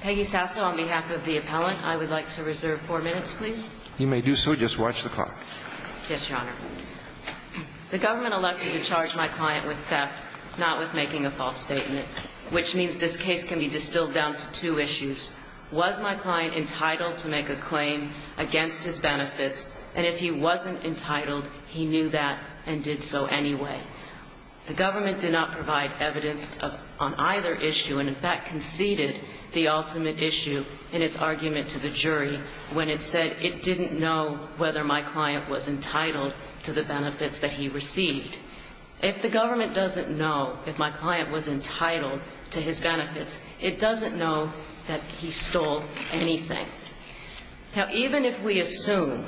Peggy Sasso, on behalf of the appellant, I would like to reserve four minutes, please. You may do so. Just watch the clock. Yes, Your Honor. The government elected to charge my client with theft, not with making a false statement, which means this case can be distilled down to two issues. Was my client entitled to make a claim against his benefits? And if he wasn't entitled, he knew that and did so anyway. The government did not provide evidence on either issue and in fact conceded the ultimate issue in its argument to the jury when it said it didn't know whether my client was entitled to the benefits that he received. If the government doesn't know if my client was entitled to his benefits, it doesn't know that he stole anything. Now, even if we assume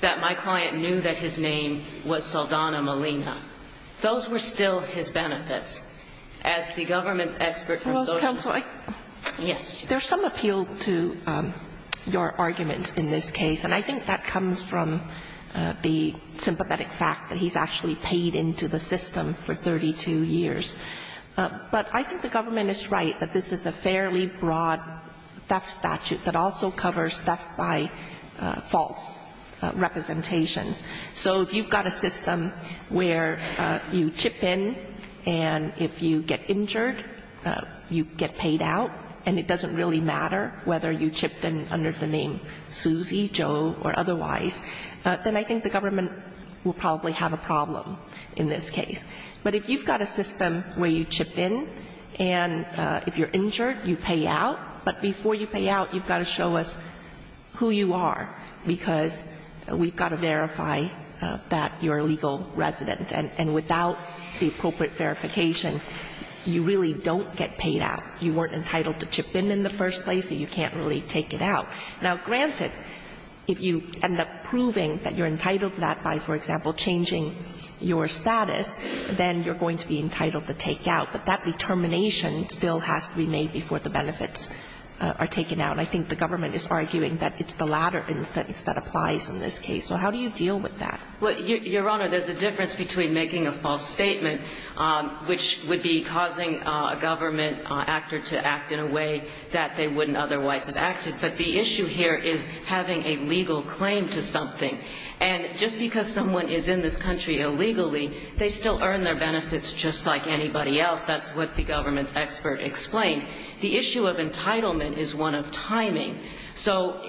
that my client knew that his name was Saldana Molina, those were still his benefits. As the government's expert from Social Security. Yes. There's some appeal to your arguments in this case, and I think that comes from the sympathetic fact that he's actually paid into the system for 32 years. But I think the government is right that this is a fairly broad theft statute that also covers theft by false representations. So if you've got a system where you chip in and if you get injured, you get paid out, and it doesn't really matter whether you chipped in under the name Suzy, Joe or otherwise, then I think the government will probably have a problem in this case. But if you've got a system where you chip in and if you're injured, you pay out, but before you pay out, you've got to show us who you are, because we've got to verify that you're a legal resident. And without the appropriate verification, you really don't get paid out. You weren't entitled to chip in in the first place, so you can't really take it out. Now, granted, if you end up proving that you're entitled to that by, for example, changing your status, then you're going to be entitled to take out. But that determination still has to be made before the benefits are taken out. And I think the government is arguing that it's the latter that applies in this case. So how do you deal with that? Well, Your Honor, there's a difference between making a false statement, which would be causing a government actor to act in a way that they wouldn't otherwise have acted. But the issue here is having a legal claim to something. And just because someone is in this country illegally, they still earn their benefits just like anybody else. That's what the government's expert explained. The issue of entitlement is one of timing. So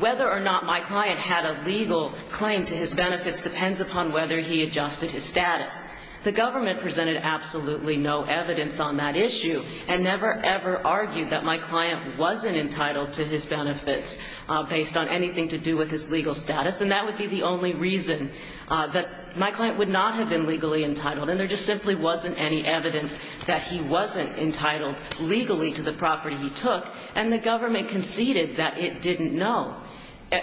whether or not my client had a legal claim to his benefits depends upon whether he adjusted his status. The government presented absolutely no evidence on that issue and never, ever argued that my client wasn't entitled to his benefits based on anything to do with his legal status. And that would be the only reason that my client would not have been legally entitled. And there just simply wasn't any evidence that he wasn't entitled legally to the property he took. And the government conceded that it didn't know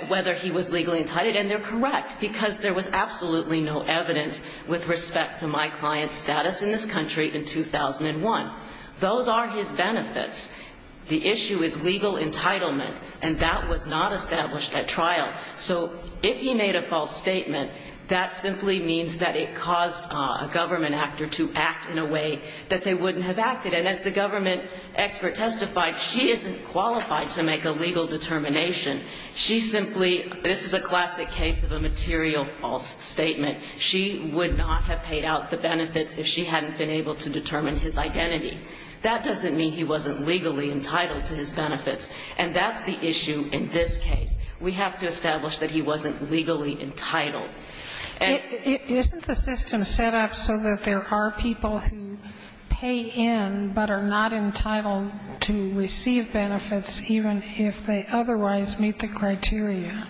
whether he was legally entitled. And they're correct because there was absolutely no evidence with respect to my client's status in this country in 2001. Those are his benefits. The issue is legal entitlement. And that was not established at trial. So if he made a false statement, that simply means that it caused a government actor to act in a way that they wouldn't have acted. And as the government expert testified, she isn't qualified to make a legal determination. She simply, this is a classic case of a material false statement. She would not have paid out the benefits if she hadn't been able to determine his identity. That doesn't mean he wasn't legally entitled to his benefits. And that's the issue in this case. We have to establish that he wasn't legally entitled. And the system is set up so that there are people who pay in but are not entitled to receive benefits even if they otherwise meet the criteria.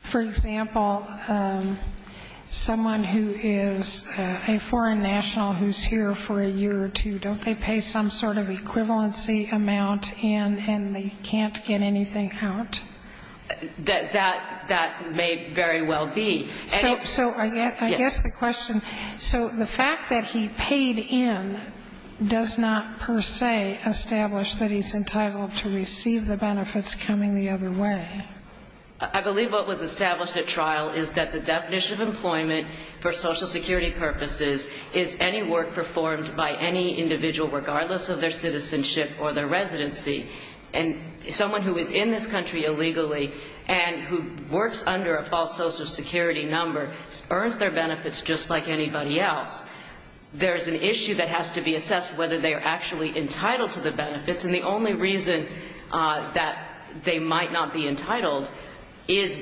For example, someone who is a foreign national who is here for a year or two, don't they pay some sort of equivalency amount and they can't get anything out? That may very well be. So I guess the question, so the fact that he paid in does not per se establish that he's entitled to receive the benefits coming the other way. I believe what was established at trial is that the definition of employment for Social Security purposes is any work performed by any individual regardless of their citizenship or their residency. And someone who is in this country illegally and who works under a false Social Security number earns their benefits just like anybody else. There is an issue that has to be assessed whether they are actually entitled to the benefits. And the only reason that they might not be entitled is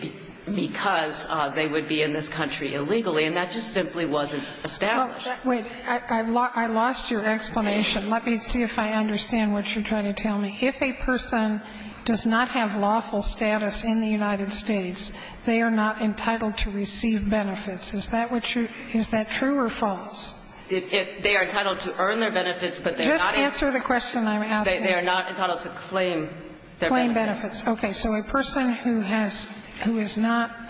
because they would be in this country illegally. And that just simply wasn't established. Wait. I lost your explanation. Let me see if I understand what you're trying to tell me. If a person does not have lawful status in the United States, they are not entitled to receive benefits. Is that what you're – is that true or false? If they are entitled to earn their benefits, but they're not entitled to claim their benefits. Just answer the question I'm asking. Claim benefits. Okay. So a person who has – who is not –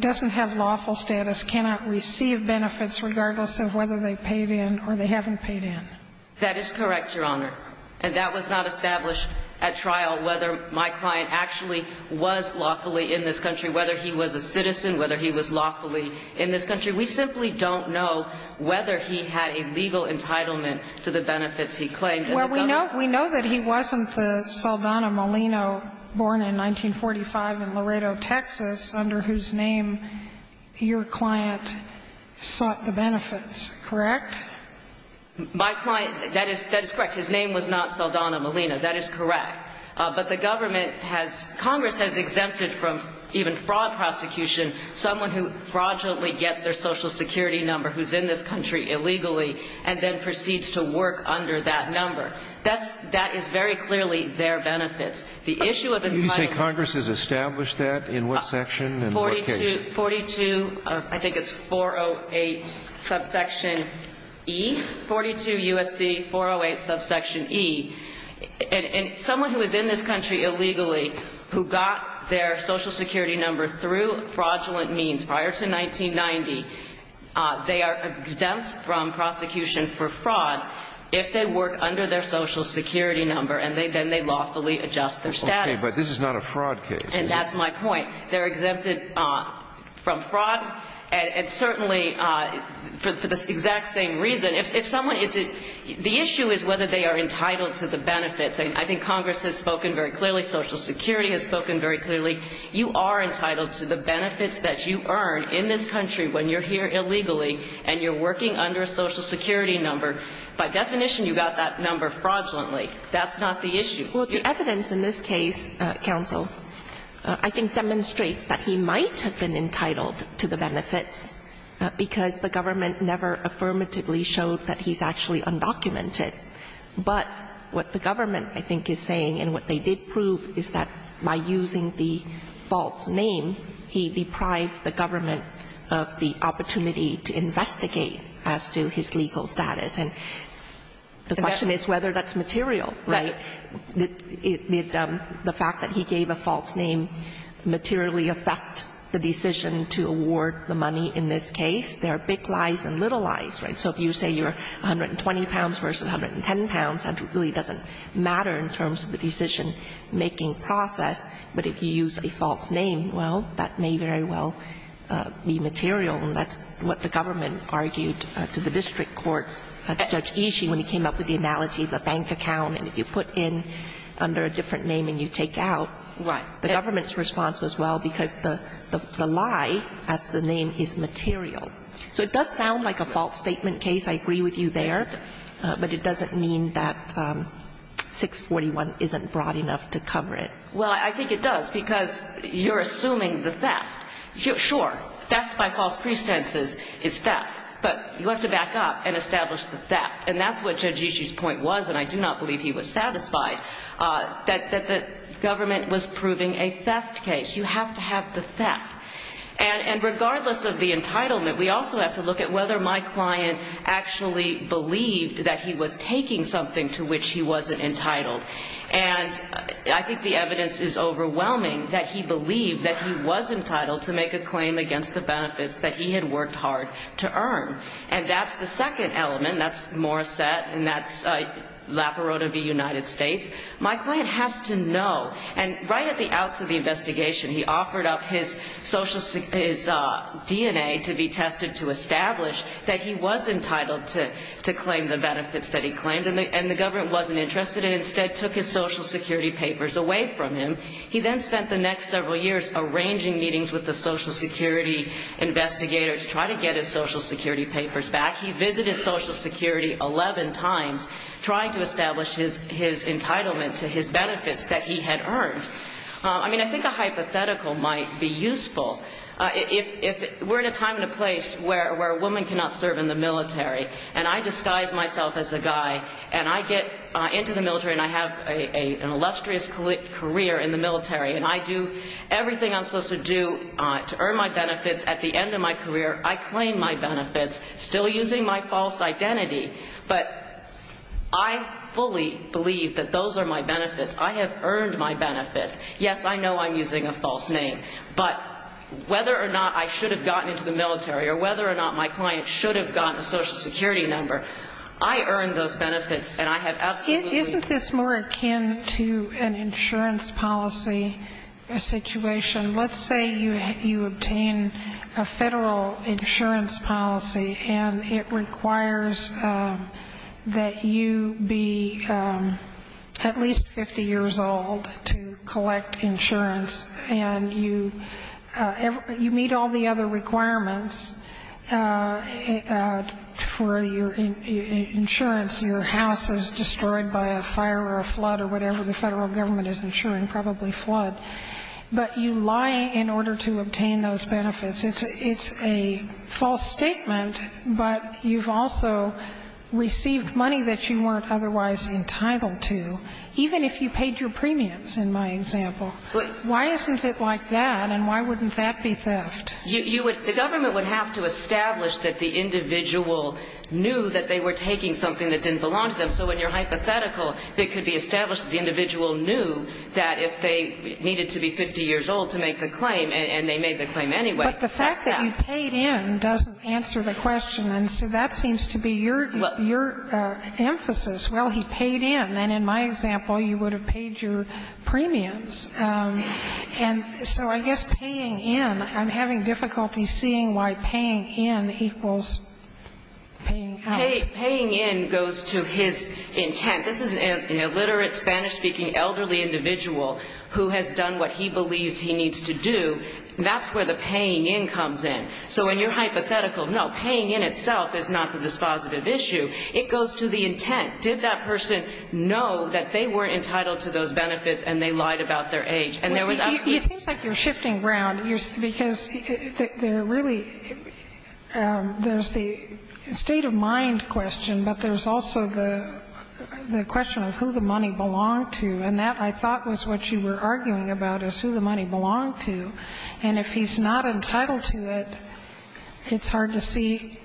doesn't have lawful status cannot receive benefits regardless of whether they paid in or they haven't paid in. That is correct, Your Honor. And that was not established at trial whether my client actually was lawfully in this country, whether he was a citizen, whether he was lawfully in this country. We simply don't know whether he had a legal entitlement to the benefits he claimed in the government. Well, we know – we know that he wasn't the Saldana Molino born in 1945 in Laredo, Texas, under whose name your client sought the benefits, correct? My client – that is – that is correct. His name was not Saldana Molino. That is correct. But the government has – Congress has exempted from even fraud prosecution someone who fraudulently gets their Social Security number who's in this country illegally and then proceeds to work under that number. The issue of entitlement – You say Congress has established that in what section and what case? 42 – 42 – I think it's 408 subsection E. 42 U.S.C. 408 subsection E. And someone who is in this country illegally who got their Social Security number through fraudulent means prior to 1990, they are exempt from prosecution for fraud if they work under their Social Security number and then they lawfully adjust their status. But this is not a fraud case. And that's my point. They're exempted from fraud and certainly for the exact same reason. If someone – the issue is whether they are entitled to the benefits. I think Congress has spoken very clearly. Social Security has spoken very clearly. You are entitled to the benefits that you earn in this country when you're here illegally and you're working under a Social Security number. By definition, you got that number fraudulently. That's not the issue. Well, the evidence in this case, Counsel, I think demonstrates that he might have been entitled to the benefits because the government never affirmatively showed that he's actually undocumented. But what the government, I think, is saying and what they did prove is that by using the false name, he deprived the government of the opportunity to investigate as to his legal status. And the question is whether that's material, right? Did the fact that he gave a false name materially affect the decision to award the money in this case? There are big lies and little lies, right? So if you say you're 120 pounds versus 110 pounds, that really doesn't matter in terms of the decision-making process. But if you use a false name, well, that may very well be material. And that's what the government argued to the district court, Judge Ishii, when he came up with the analogy of the bank account. And if you put in under a different name and you take out, the government's response was, well, because the lie as the name is material. So it does sound like a false statement case. I agree with you there. But it doesn't mean that 641 isn't broad enough to cover it. Well, I think it does, because you're assuming the theft. Sure, theft by false pretenses is theft. But you have to back up and establish the theft. And that's what Judge Ishii's point was, and I do not believe he was satisfied, that the government was proving a theft case. You have to have the theft. And regardless of the entitlement, we also have to look at whether my client actually believed that he was taking something to which he wasn't entitled. And I think the evidence is overwhelming that he believed that he was entitled to make a claim against the benefits that he had worked hard to earn. And that's the second element. That's Morissette, and that's La Perota v. United States. My client has to know. And right at the outset of the investigation, he offered up his DNA to be tested to establish that he was entitled to claim the benefits that he claimed, and the government wasn't interested and instead took his Social Security papers away from him. He then spent the next several years arranging meetings with the Social Security investigators to try to get his Social Security papers back. He visited Social Security 11 times trying to establish his entitlement to his benefits that he had earned. I mean, I think a hypothetical might be useful. If we're in a time and a place where a woman cannot serve in the military and I disguise myself as a guy and I get into the military and I have an illustrious career in the military and I do everything I'm supposed to do to earn my benefits, at the end of my career I claim my benefits, still using my false identity. But I fully believe that those are my benefits. I have earned my benefits. Yes, I know I'm using a false name. But whether or not I should have gotten into the military or whether or not my client should have gotten a Social Security number, I earned those benefits and I have absolutely been able to earn them. Isn't this more akin to an insurance policy situation? Let's say you obtain a Federal insurance policy and it requires that you be at least 50 years old to collect insurance and you meet all the other requirements for your insurance, your house is destroyed by a fire or a flood or whatever the Federal government is insuring, probably flood. But you lie in order to obtain those benefits. It's a false statement, but you've also received money that you weren't otherwise entitled to, even if you paid your premiums, in my example. Why isn't it like that and why wouldn't that be theft? You would – the government would have to establish that the individual knew that they were taking something that didn't belong to them. So in your hypothetical, it could be established that the individual knew that if they needed to be 50 years old to make the claim and they made the claim anyway. That's that. But the fact that you paid in doesn't answer the question. And so that seems to be your emphasis. Well, he paid in. And in my example, you would have paid your premiums. And so I guess paying in, I'm having difficulty seeing why paying in equals paying out. Paying in goes to his intent. This is an illiterate Spanish-speaking elderly individual who has done what he believes he needs to do. That's where the paying in comes in. So in your hypothetical, no, paying in itself is not the dispositive issue. It goes to the intent. Did that person know that they weren't entitled to those benefits and they lied about their age? And there was absolutely no – Well, it seems like you're shifting ground because there really – there's the state-of-mind question, but there's also the question of who the money belonged to. And that, I thought, was what you were arguing about, is who the money belonged to. And if he's not entitled to it, it's hard to see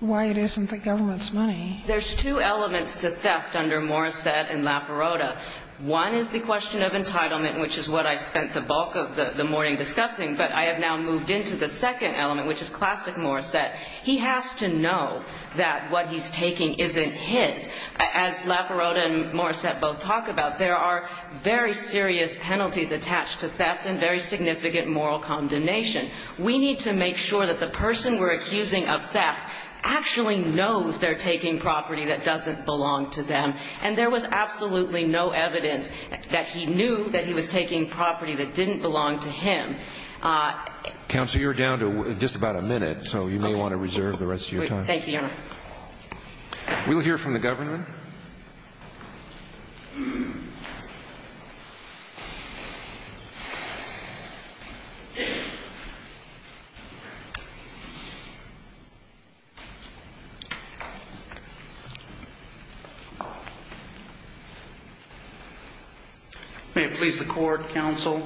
why it isn't the government's money. There's two elements to theft under Morissette and Laperota. One is the question of entitlement, which is what I spent the bulk of the morning discussing, but I have now moved into the second element, which is classic Morissette. He has to know that what he's taking isn't his. As Laperota and Morissette both talk about, there are very serious penalties attached to theft and very significant moral condemnation. We need to make sure that the person we're accusing of theft actually knows they're taking property that doesn't belong to them. And there was absolutely no evidence that he knew that he was taking property that didn't belong to him. Counsel, you're down to just about a minute, so you may want to reserve the rest of your time. Thank you, Your Honor. We'll hear from the government. May it please the Court, Counsel.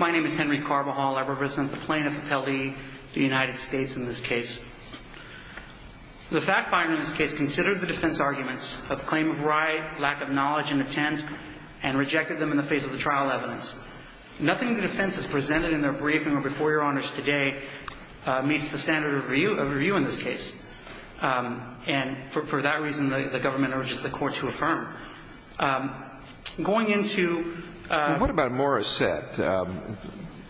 My name is Henry Carbajal. I represent the plaintiffs appellee, the United States, in this case. The fact finder in this case considered the defense arguments of claim of right, lack of knowledge, and intent, and rejected them in the face of the trial evidence. Nothing the defense has presented in their briefing or before Your Honors today meets the standard of review in this case. And for that reason, the government urges the Court to affirm. Going into the... Well, what about Morissette?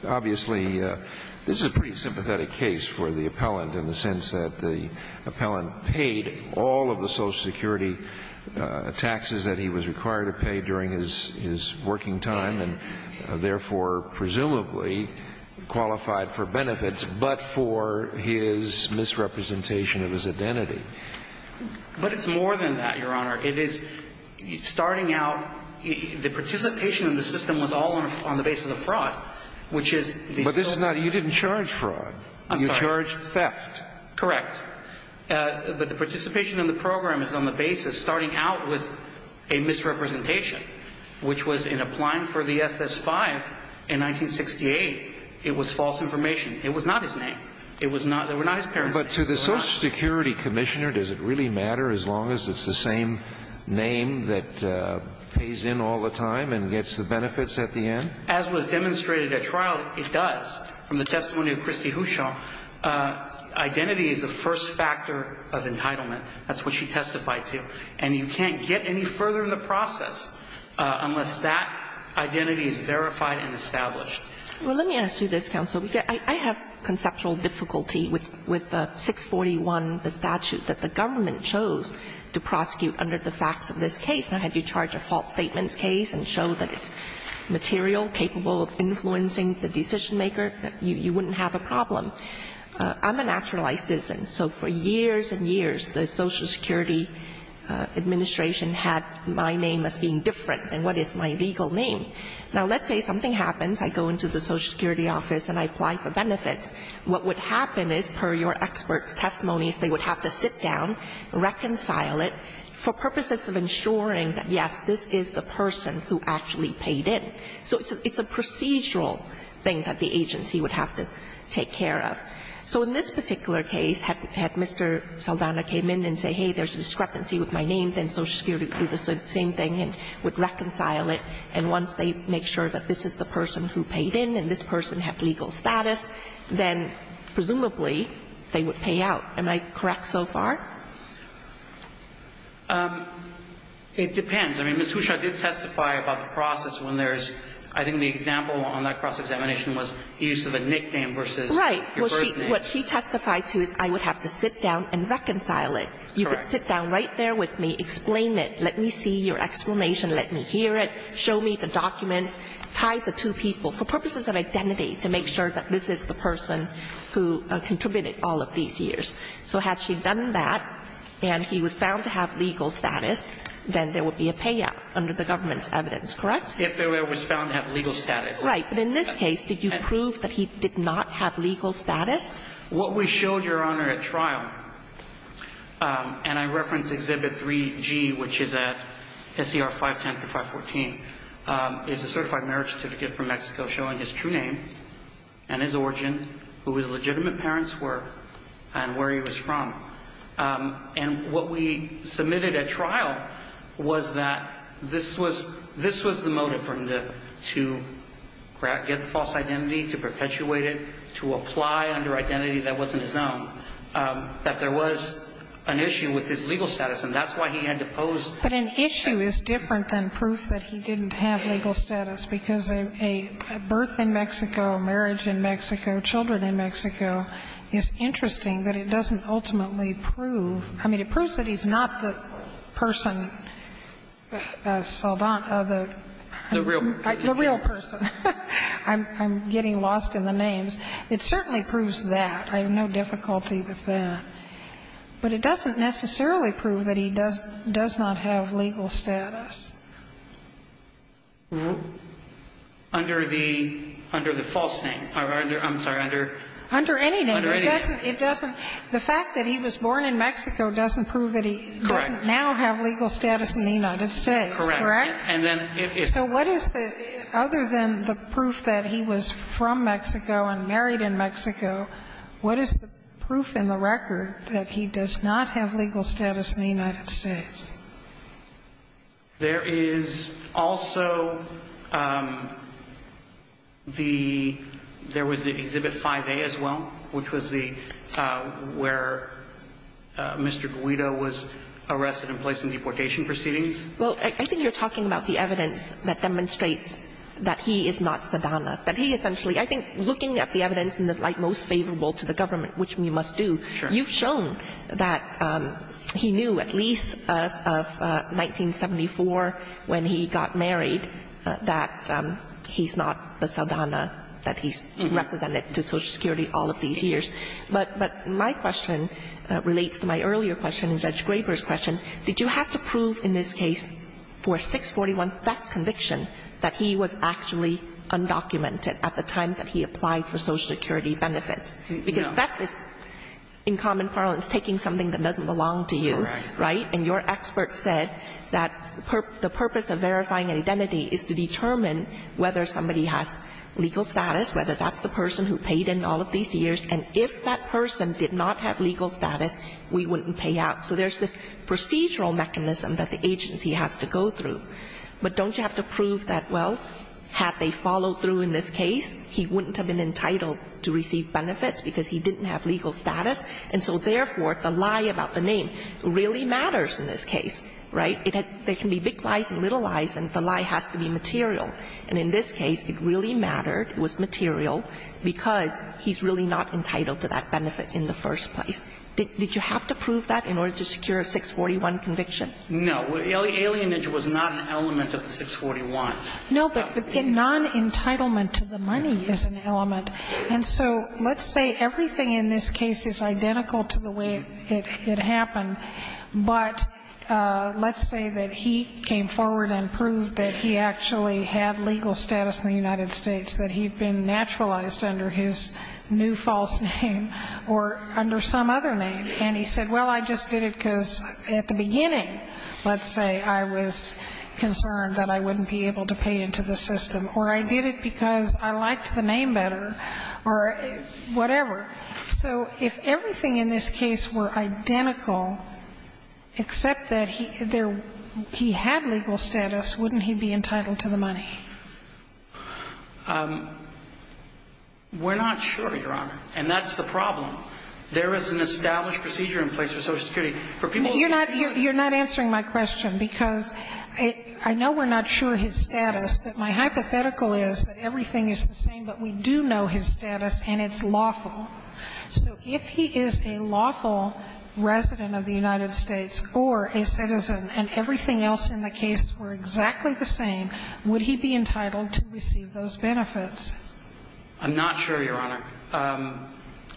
Obviously, this is a pretty sympathetic case for the appellant in the sense that the appellant paid all of the Social Security taxes that he was required to pay during his working time and, therefore, presumably qualified for benefits, but for his misrepresentation of his identity. But it's more than that, Your Honor. It is starting out the participation of the system was all on the basis of fraud, which is... But this is not... You didn't charge fraud. I'm sorry. You charged theft. Correct. But the participation in the program is on the basis starting out with a misrepresentation, which was in applying for the SS-5 in 1968, it was false information. It was not his name. It was not his parents' name. But to the Social Security Commissioner, does it really matter as long as it's the same name that pays in all the time and gets the benefits at the end? As was demonstrated at trial, it does. From the testimony of Christy Houchon, identity is the first factor of entitlement. That's what she testified to. And you can't get any further in the process unless that identity is verified and established. Well, let me ask you this, counsel. I have conceptual difficulty with 641, the statute that the government chose to prosecute under the facts of this case. Now, had you charged a false statements case and showed that it's material, capable of influencing the decision-maker, you wouldn't have a problem. I'm a naturalized citizen. So for years and years, the Social Security Administration had my name as being different than what is my legal name. Now, let's say something happens. I go into the Social Security office and I apply for benefits. What would happen is, per your experts' testimonies, they would have to sit down, reconcile it, for purposes of ensuring that, yes, this is the person who actually paid in. So it's a procedural thing that the agency would have to take care of. So in this particular case, had Mr. Saldana came in and said, hey, there's a discrepancy with my name, then Social Security would do the same thing and would reconcile it, and once they make sure that this is the person who paid in and this person had legal status, then presumably they would pay out. Am I correct so far? It depends. I mean, Ms. Huchot did testify about the process when there's, I think the example on that cross-examination was use of a nickname versus your birth name. Right. What she testified to is I would have to sit down and reconcile it. Correct. You could sit down right there with me, explain it, let me see your explanation, let me hear it, show me the documents, tie the two people, for purposes of identity, to make sure that this is the person who contributed all of these years. So had she done that and he was found to have legal status, then there would be a payout under the government's evidence. Correct? If he was found to have legal status. Right. But in this case, did you prove that he did not have legal status? What we showed, Your Honor, at trial, and I reference Exhibit 3G, which is at SCR 510 through 514, is a certified marriage certificate from Mexico showing his true name and his origin, who his legitimate parents were, and where he was from. And what we submitted at trial was that this was the motive for him to get the false identity, to perpetuate it, to apply under identity that wasn't his own, that there was an issue with his legal status, and that's why he had to pose. But an issue is different than proof that he didn't have legal status, because a birth in Mexico, a marriage in Mexico, children in Mexico is interesting, but it doesn't ultimately prove. I mean, it proves that he's not the person, Saldan, the real person. I'm getting lost in the names. It certainly proves that. I have no difficulty with that. But it doesn't necessarily prove that he does not have legal status. Under the false name. I'm sorry. Under any name. It doesn't. The fact that he was born in Mexico doesn't prove that he doesn't now have legal status in the United States, correct? Correct. And then it is. So what is the other than the proof that he was from Mexico and married in Mexico, what is the proof in the record that he does not have legal status in the United States? There is also the – there was the Exhibit 5A as well, which was the – where Mr. Guido was arrested and placed in deportation proceedings. Well, I think you're talking about the evidence that demonstrates that he is not Saldana, that he essentially – I think looking at the evidence in the light most favorable to the government, which we must do, you've shown that he knew at least as of 1974 when he got married that he's not the Saldana that he's represented to Social Security all of these years. But my question relates to my earlier question in Judge Graber's question. Did you have to prove in this case for a 641 theft conviction that he was actually undocumented at the time that he applied for Social Security benefits? Because theft is, in common parlance, taking something that doesn't belong to you. Right? And your expert said that the purpose of verifying an identity is to determine whether somebody has legal status, whether that's the person who paid in all of these years, and if that person did not have legal status, we wouldn't pay out. So there's this procedural mechanism that the agency has to go through. But don't you have to prove that, well, had they followed through in this case, he wouldn't have been entitled to receive benefits because he didn't have legal status? And so, therefore, the lie about the name really matters in this case, right? There can be big lies and little lies, and the lie has to be material. And in this case, it really mattered, it was material, because he's really not entitled to that benefit in the first place. Did you have to prove that in order to secure a 641 conviction? No. Alienage was not an element of the 641. No, but non-entitlement to the money is an element. And so let's say everything in this case is identical to the way it happened, but let's say that he came forward and proved that he actually had legal status in the United States, that he'd been naturalized under his new false name, or under some other name, and he said, well, I just did it because at the beginning, let's say, I was concerned that I wouldn't be able to pay into the system, or I did it because I liked the name better, or whatever. So if everything in this case were identical, except that he had legal status, wouldn't he be entitled to the money? We're not sure, Your Honor, and that's the problem. There is an established procedure in place for Social Security. You're not answering my question because I know we're not sure his status, but my hypothetical is that everything is the same, but we do know his status and it's lawful. So if he is a lawful resident of the United States or a citizen and everything else in the case were exactly the same, would he be entitled to receive those benefits? I'm not sure, Your Honor.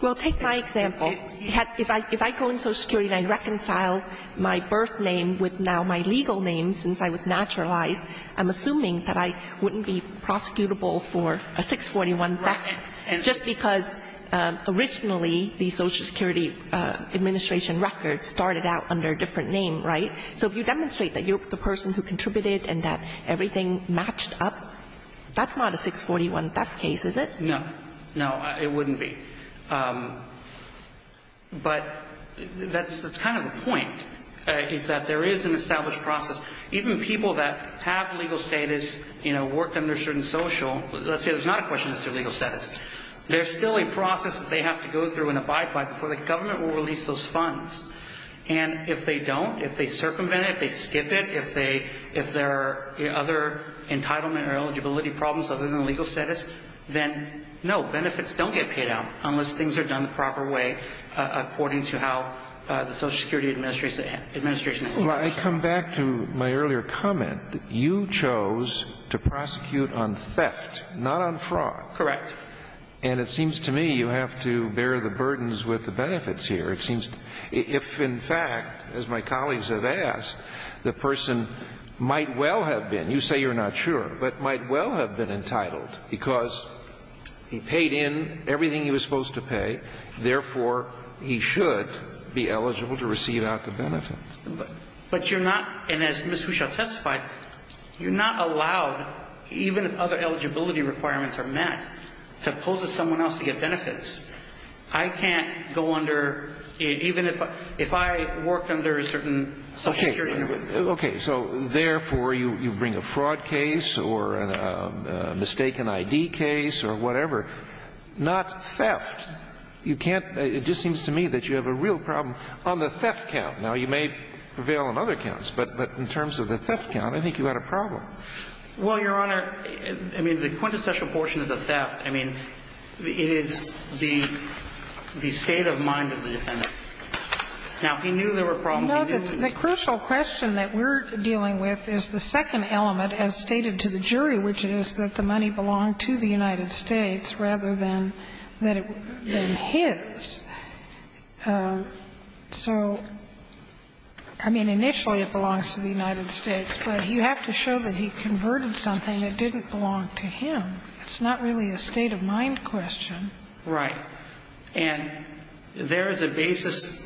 Well, take my example. If I go into Social Security and I reconcile my birth name with now my legal name since I was naturalized, I'm assuming that I wouldn't be prosecutable for a 641 theft just because originally the Social Security Administration records started out under a different name, right? So if you demonstrate that you're the person who contributed and that everything matched up, that's not a 641 theft case, is it? No. No, it wouldn't be. But that's kind of the point is that there is an established process. Even people that have legal status, you know, worked under certain social, let's say there's not a question as to legal status, there's still a process that they have to go through and abide by before the government will release those funds. And if they don't, if they circumvent it, if they skip it, if there are other entitlement or eligibility problems other than legal status, then, no, benefits don't get paid out unless things are done the proper way according to how the Social Security Administration has set it up. Well, I come back to my earlier comment that you chose to prosecute on theft, not on fraud. Correct. And it seems to me you have to bear the burdens with the benefits here. It seems if, in fact, as my colleagues have asked, the person might well have been. You say you're not sure. But might well have been entitled because he paid in everything he was supposed to pay, therefore, he should be eligible to receive out the benefit. But you're not, and as Ms. Huchot testified, you're not allowed, even if other eligibility requirements are met, to pose as someone else to get benefits. I can't go under, even if I worked under a certain Social Security Administration. Okay. So, therefore, you bring a fraud case or a mistaken ID case or whatever. Not theft. You can't – it just seems to me that you have a real problem on the theft count. Now, you may prevail on other counts, but in terms of the theft count, I think you had a problem. Well, Your Honor, I mean, the quintessential portion is a theft. I mean, it is the state of mind of the defendant. Now, he knew there were problems. No, the crucial question that we're dealing with is the second element as stated to the jury, which is that the money belonged to the United States rather than his. So, I mean, initially it belongs to the United States, but you have to show that he converted something that didn't belong to him. It's not really a state of mind question. Right. And there is a basis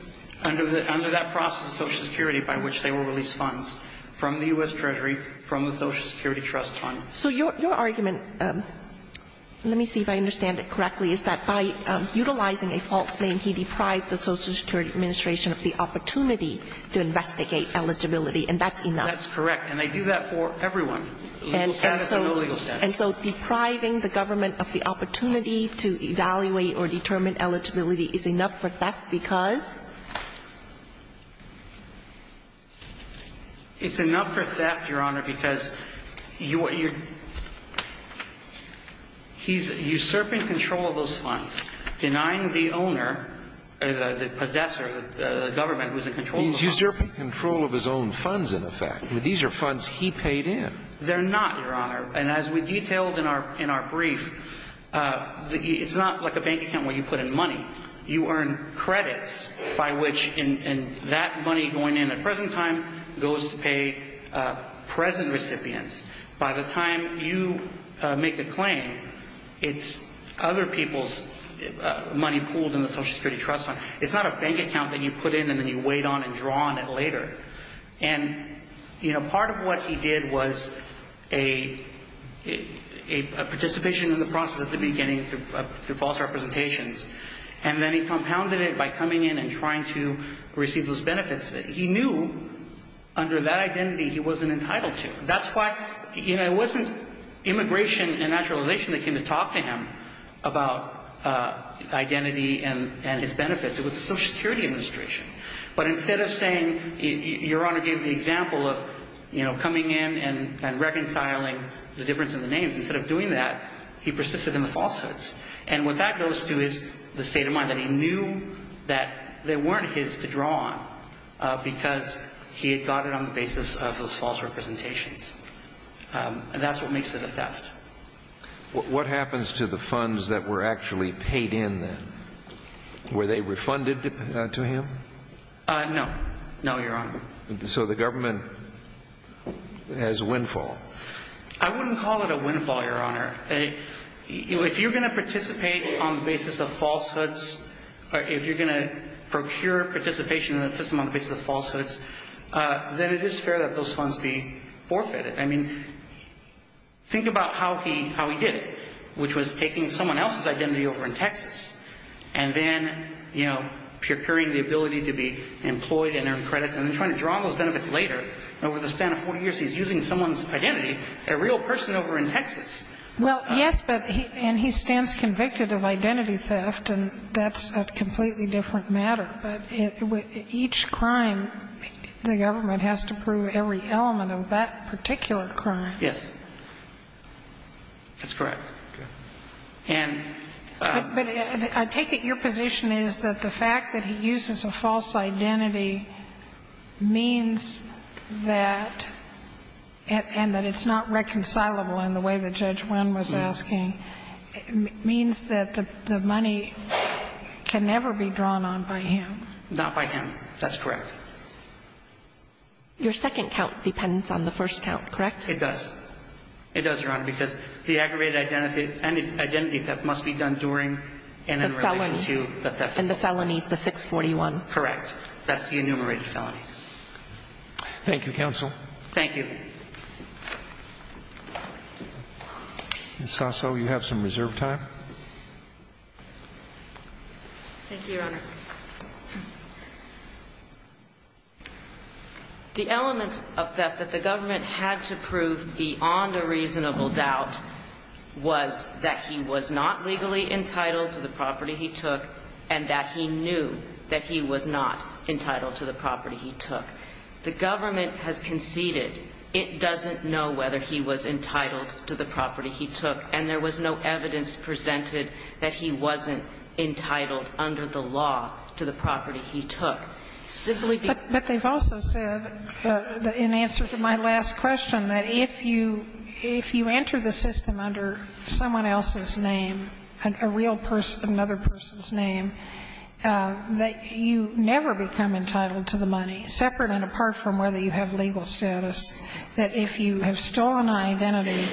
under that process of Social Security by which they will release funds from the U.S. Treasury, from the Social Security Trust Fund. So your argument – let me see if I understand it correctly – is that by utilizing a false name, he deprived the Social Security Administration of the opportunity to investigate eligibility, and that's enough. That's correct. And they do that for everyone. Legal status or no legal status. And so depriving the government of the opportunity to evaluate or determine eligibility is enough for theft because? It's enough for theft, Your Honor, because he's usurping control of those funds, denying the owner, the possessor, the government, who's in control of the funds. He's usurping control of his own funds, in effect. These are funds he paid in. They're not, Your Honor. And as we detailed in our brief, it's not like a bank account where you put in money. You earn credits by which that money going in at present time goes to pay present recipients. By the time you make a claim, it's other people's money pooled in the Social Security Trust Fund. It's not a bank account that you put in and then you wait on and draw on it later. And, you know, part of what he did was a participation in the process at the beginning through false representations. And then he compounded it by coming in and trying to receive those benefits. He knew under that identity he wasn't entitled to. That's why, you know, it wasn't immigration and naturalization that came to talk to him about identity and his benefits. It was the Social Security Administration. But instead of saying, Your Honor gave the example of, you know, coming in and reconciling the difference in the names, instead of doing that, he persisted in the falsehoods. And what that goes to is the state of mind that he knew that they weren't his to draw on because he had got it on the basis of those false representations. And that's what makes it a theft. What happens to the funds that were actually paid in then? Were they refunded to him? No. No, Your Honor. So the government has windfall. I wouldn't call it a windfall, Your Honor. If you're going to participate on the basis of falsehoods, if you're going to procure participation in the system on the basis of falsehoods, then it is fair that those funds be forfeited. I mean, think about how he did it, which was taking someone else's identity over in Texas and then, you know, procuring the ability to be employed and earn credits and then trying to draw on those benefits later. And over the span of 40 years, he's using someone's identity, a real person over in Texas. Well, yes, but he and he stands convicted of identity theft, and that's a completely different matter. But each crime, the government has to prove every element of that particular crime. Yes. That's correct. But I take it your position is that the fact that he uses a false identity means that, and that it's not reconcilable in the way that Judge Wynn was asking, means that the money can never be drawn on by him. Not by him. That's correct. Your second count depends on the first count, correct? It does. It does, Your Honor, because the aggravated identity theft must be done during and in relation to the theft. The felony. And the felony is the 641. Correct. That's the enumerated felony. Thank you, counsel. Thank you. Ms. Sasso, you have some reserve time. Thank you, Your Honor. The elements of theft that the government had to prove beyond a reasonable doubt was that he was not legally entitled to the property he took and that he knew that he was not entitled to the property he took. The government has conceded it doesn't know whether he was entitled to the property he took, and there was no evidence presented that he wasn't entitled under the law to the property he took. But they've also said, in answer to my last question, that if you enter the system under someone else's name, a real person, another person's name, that you never become entitled to the money, separate and apart from whether you have legal status, that if you have stolen an identity,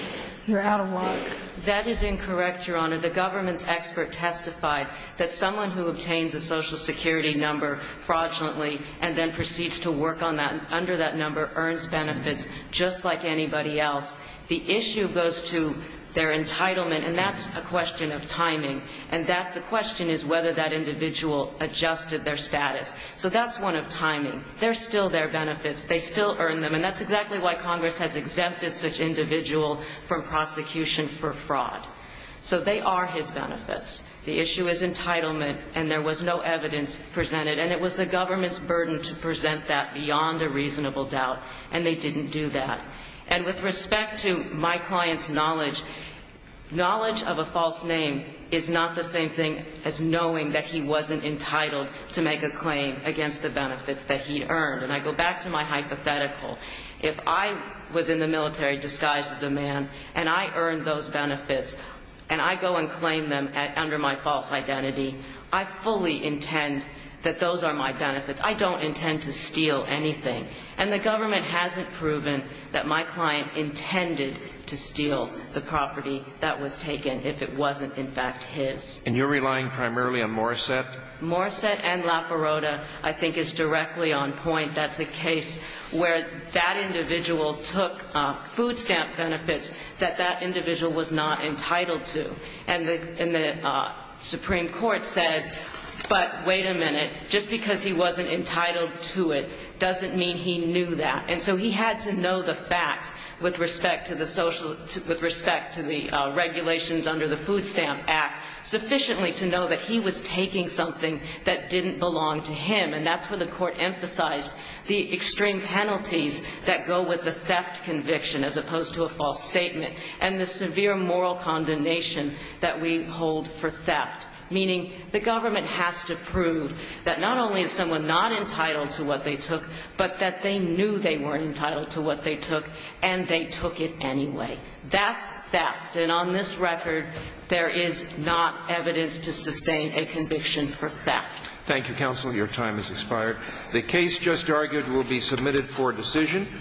you're out of luck. That is incorrect, Your Honor. The government's expert testified that someone who obtains a Social Security number fraudulently and then proceeds to work under that number earns benefits just like anybody else. The issue goes to their entitlement, and that's a question of timing. And the question is whether that individual adjusted their status. So that's one of timing. They're still there benefits. They still earn them, and that's exactly why Congress has exempted such individual from prosecution for fraud. So they are his benefits. The issue is entitlement, and there was no evidence presented, and it was the government's burden to present that beyond a reasonable doubt, and they didn't do that. And with respect to my client's knowledge, knowledge of a false name is not the same thing as knowing that he wasn't entitled to make a claim against the benefits that he earned. And I go back to my hypothetical. If I was in the military disguised as a man and I earned those benefits and I go and claim them under my false identity, I fully intend that those are my benefits. I don't intend to steal anything. And the government hasn't proven that my client intended to steal the property that was taken if it wasn't, in fact, his. And you're relying primarily on Morrissette? Morrissette and La Perota, I think, is directly on point. That's a case where that individual took food stamp benefits that that individual was not entitled to. And the Supreme Court said, but wait a minute, just because he wasn't entitled to it doesn't mean he knew that. And so he had to know the facts with respect to the regulations under the Food Stamp Act sufficiently to know that he was taking something that didn't belong to him. And that's where the Court emphasized the extreme penalties that go with the theft conviction as opposed to a false statement and the severe moral condemnation that we hold for theft, meaning the government has to prove that not only is someone not entitled to what they took, but that they knew they weren't entitled to what they took and they took it anyway. That's theft. And on this record, there is not evidence to sustain a conviction for theft. Thank you, counsel. Your time has expired. The case just argued will be submitted for decision.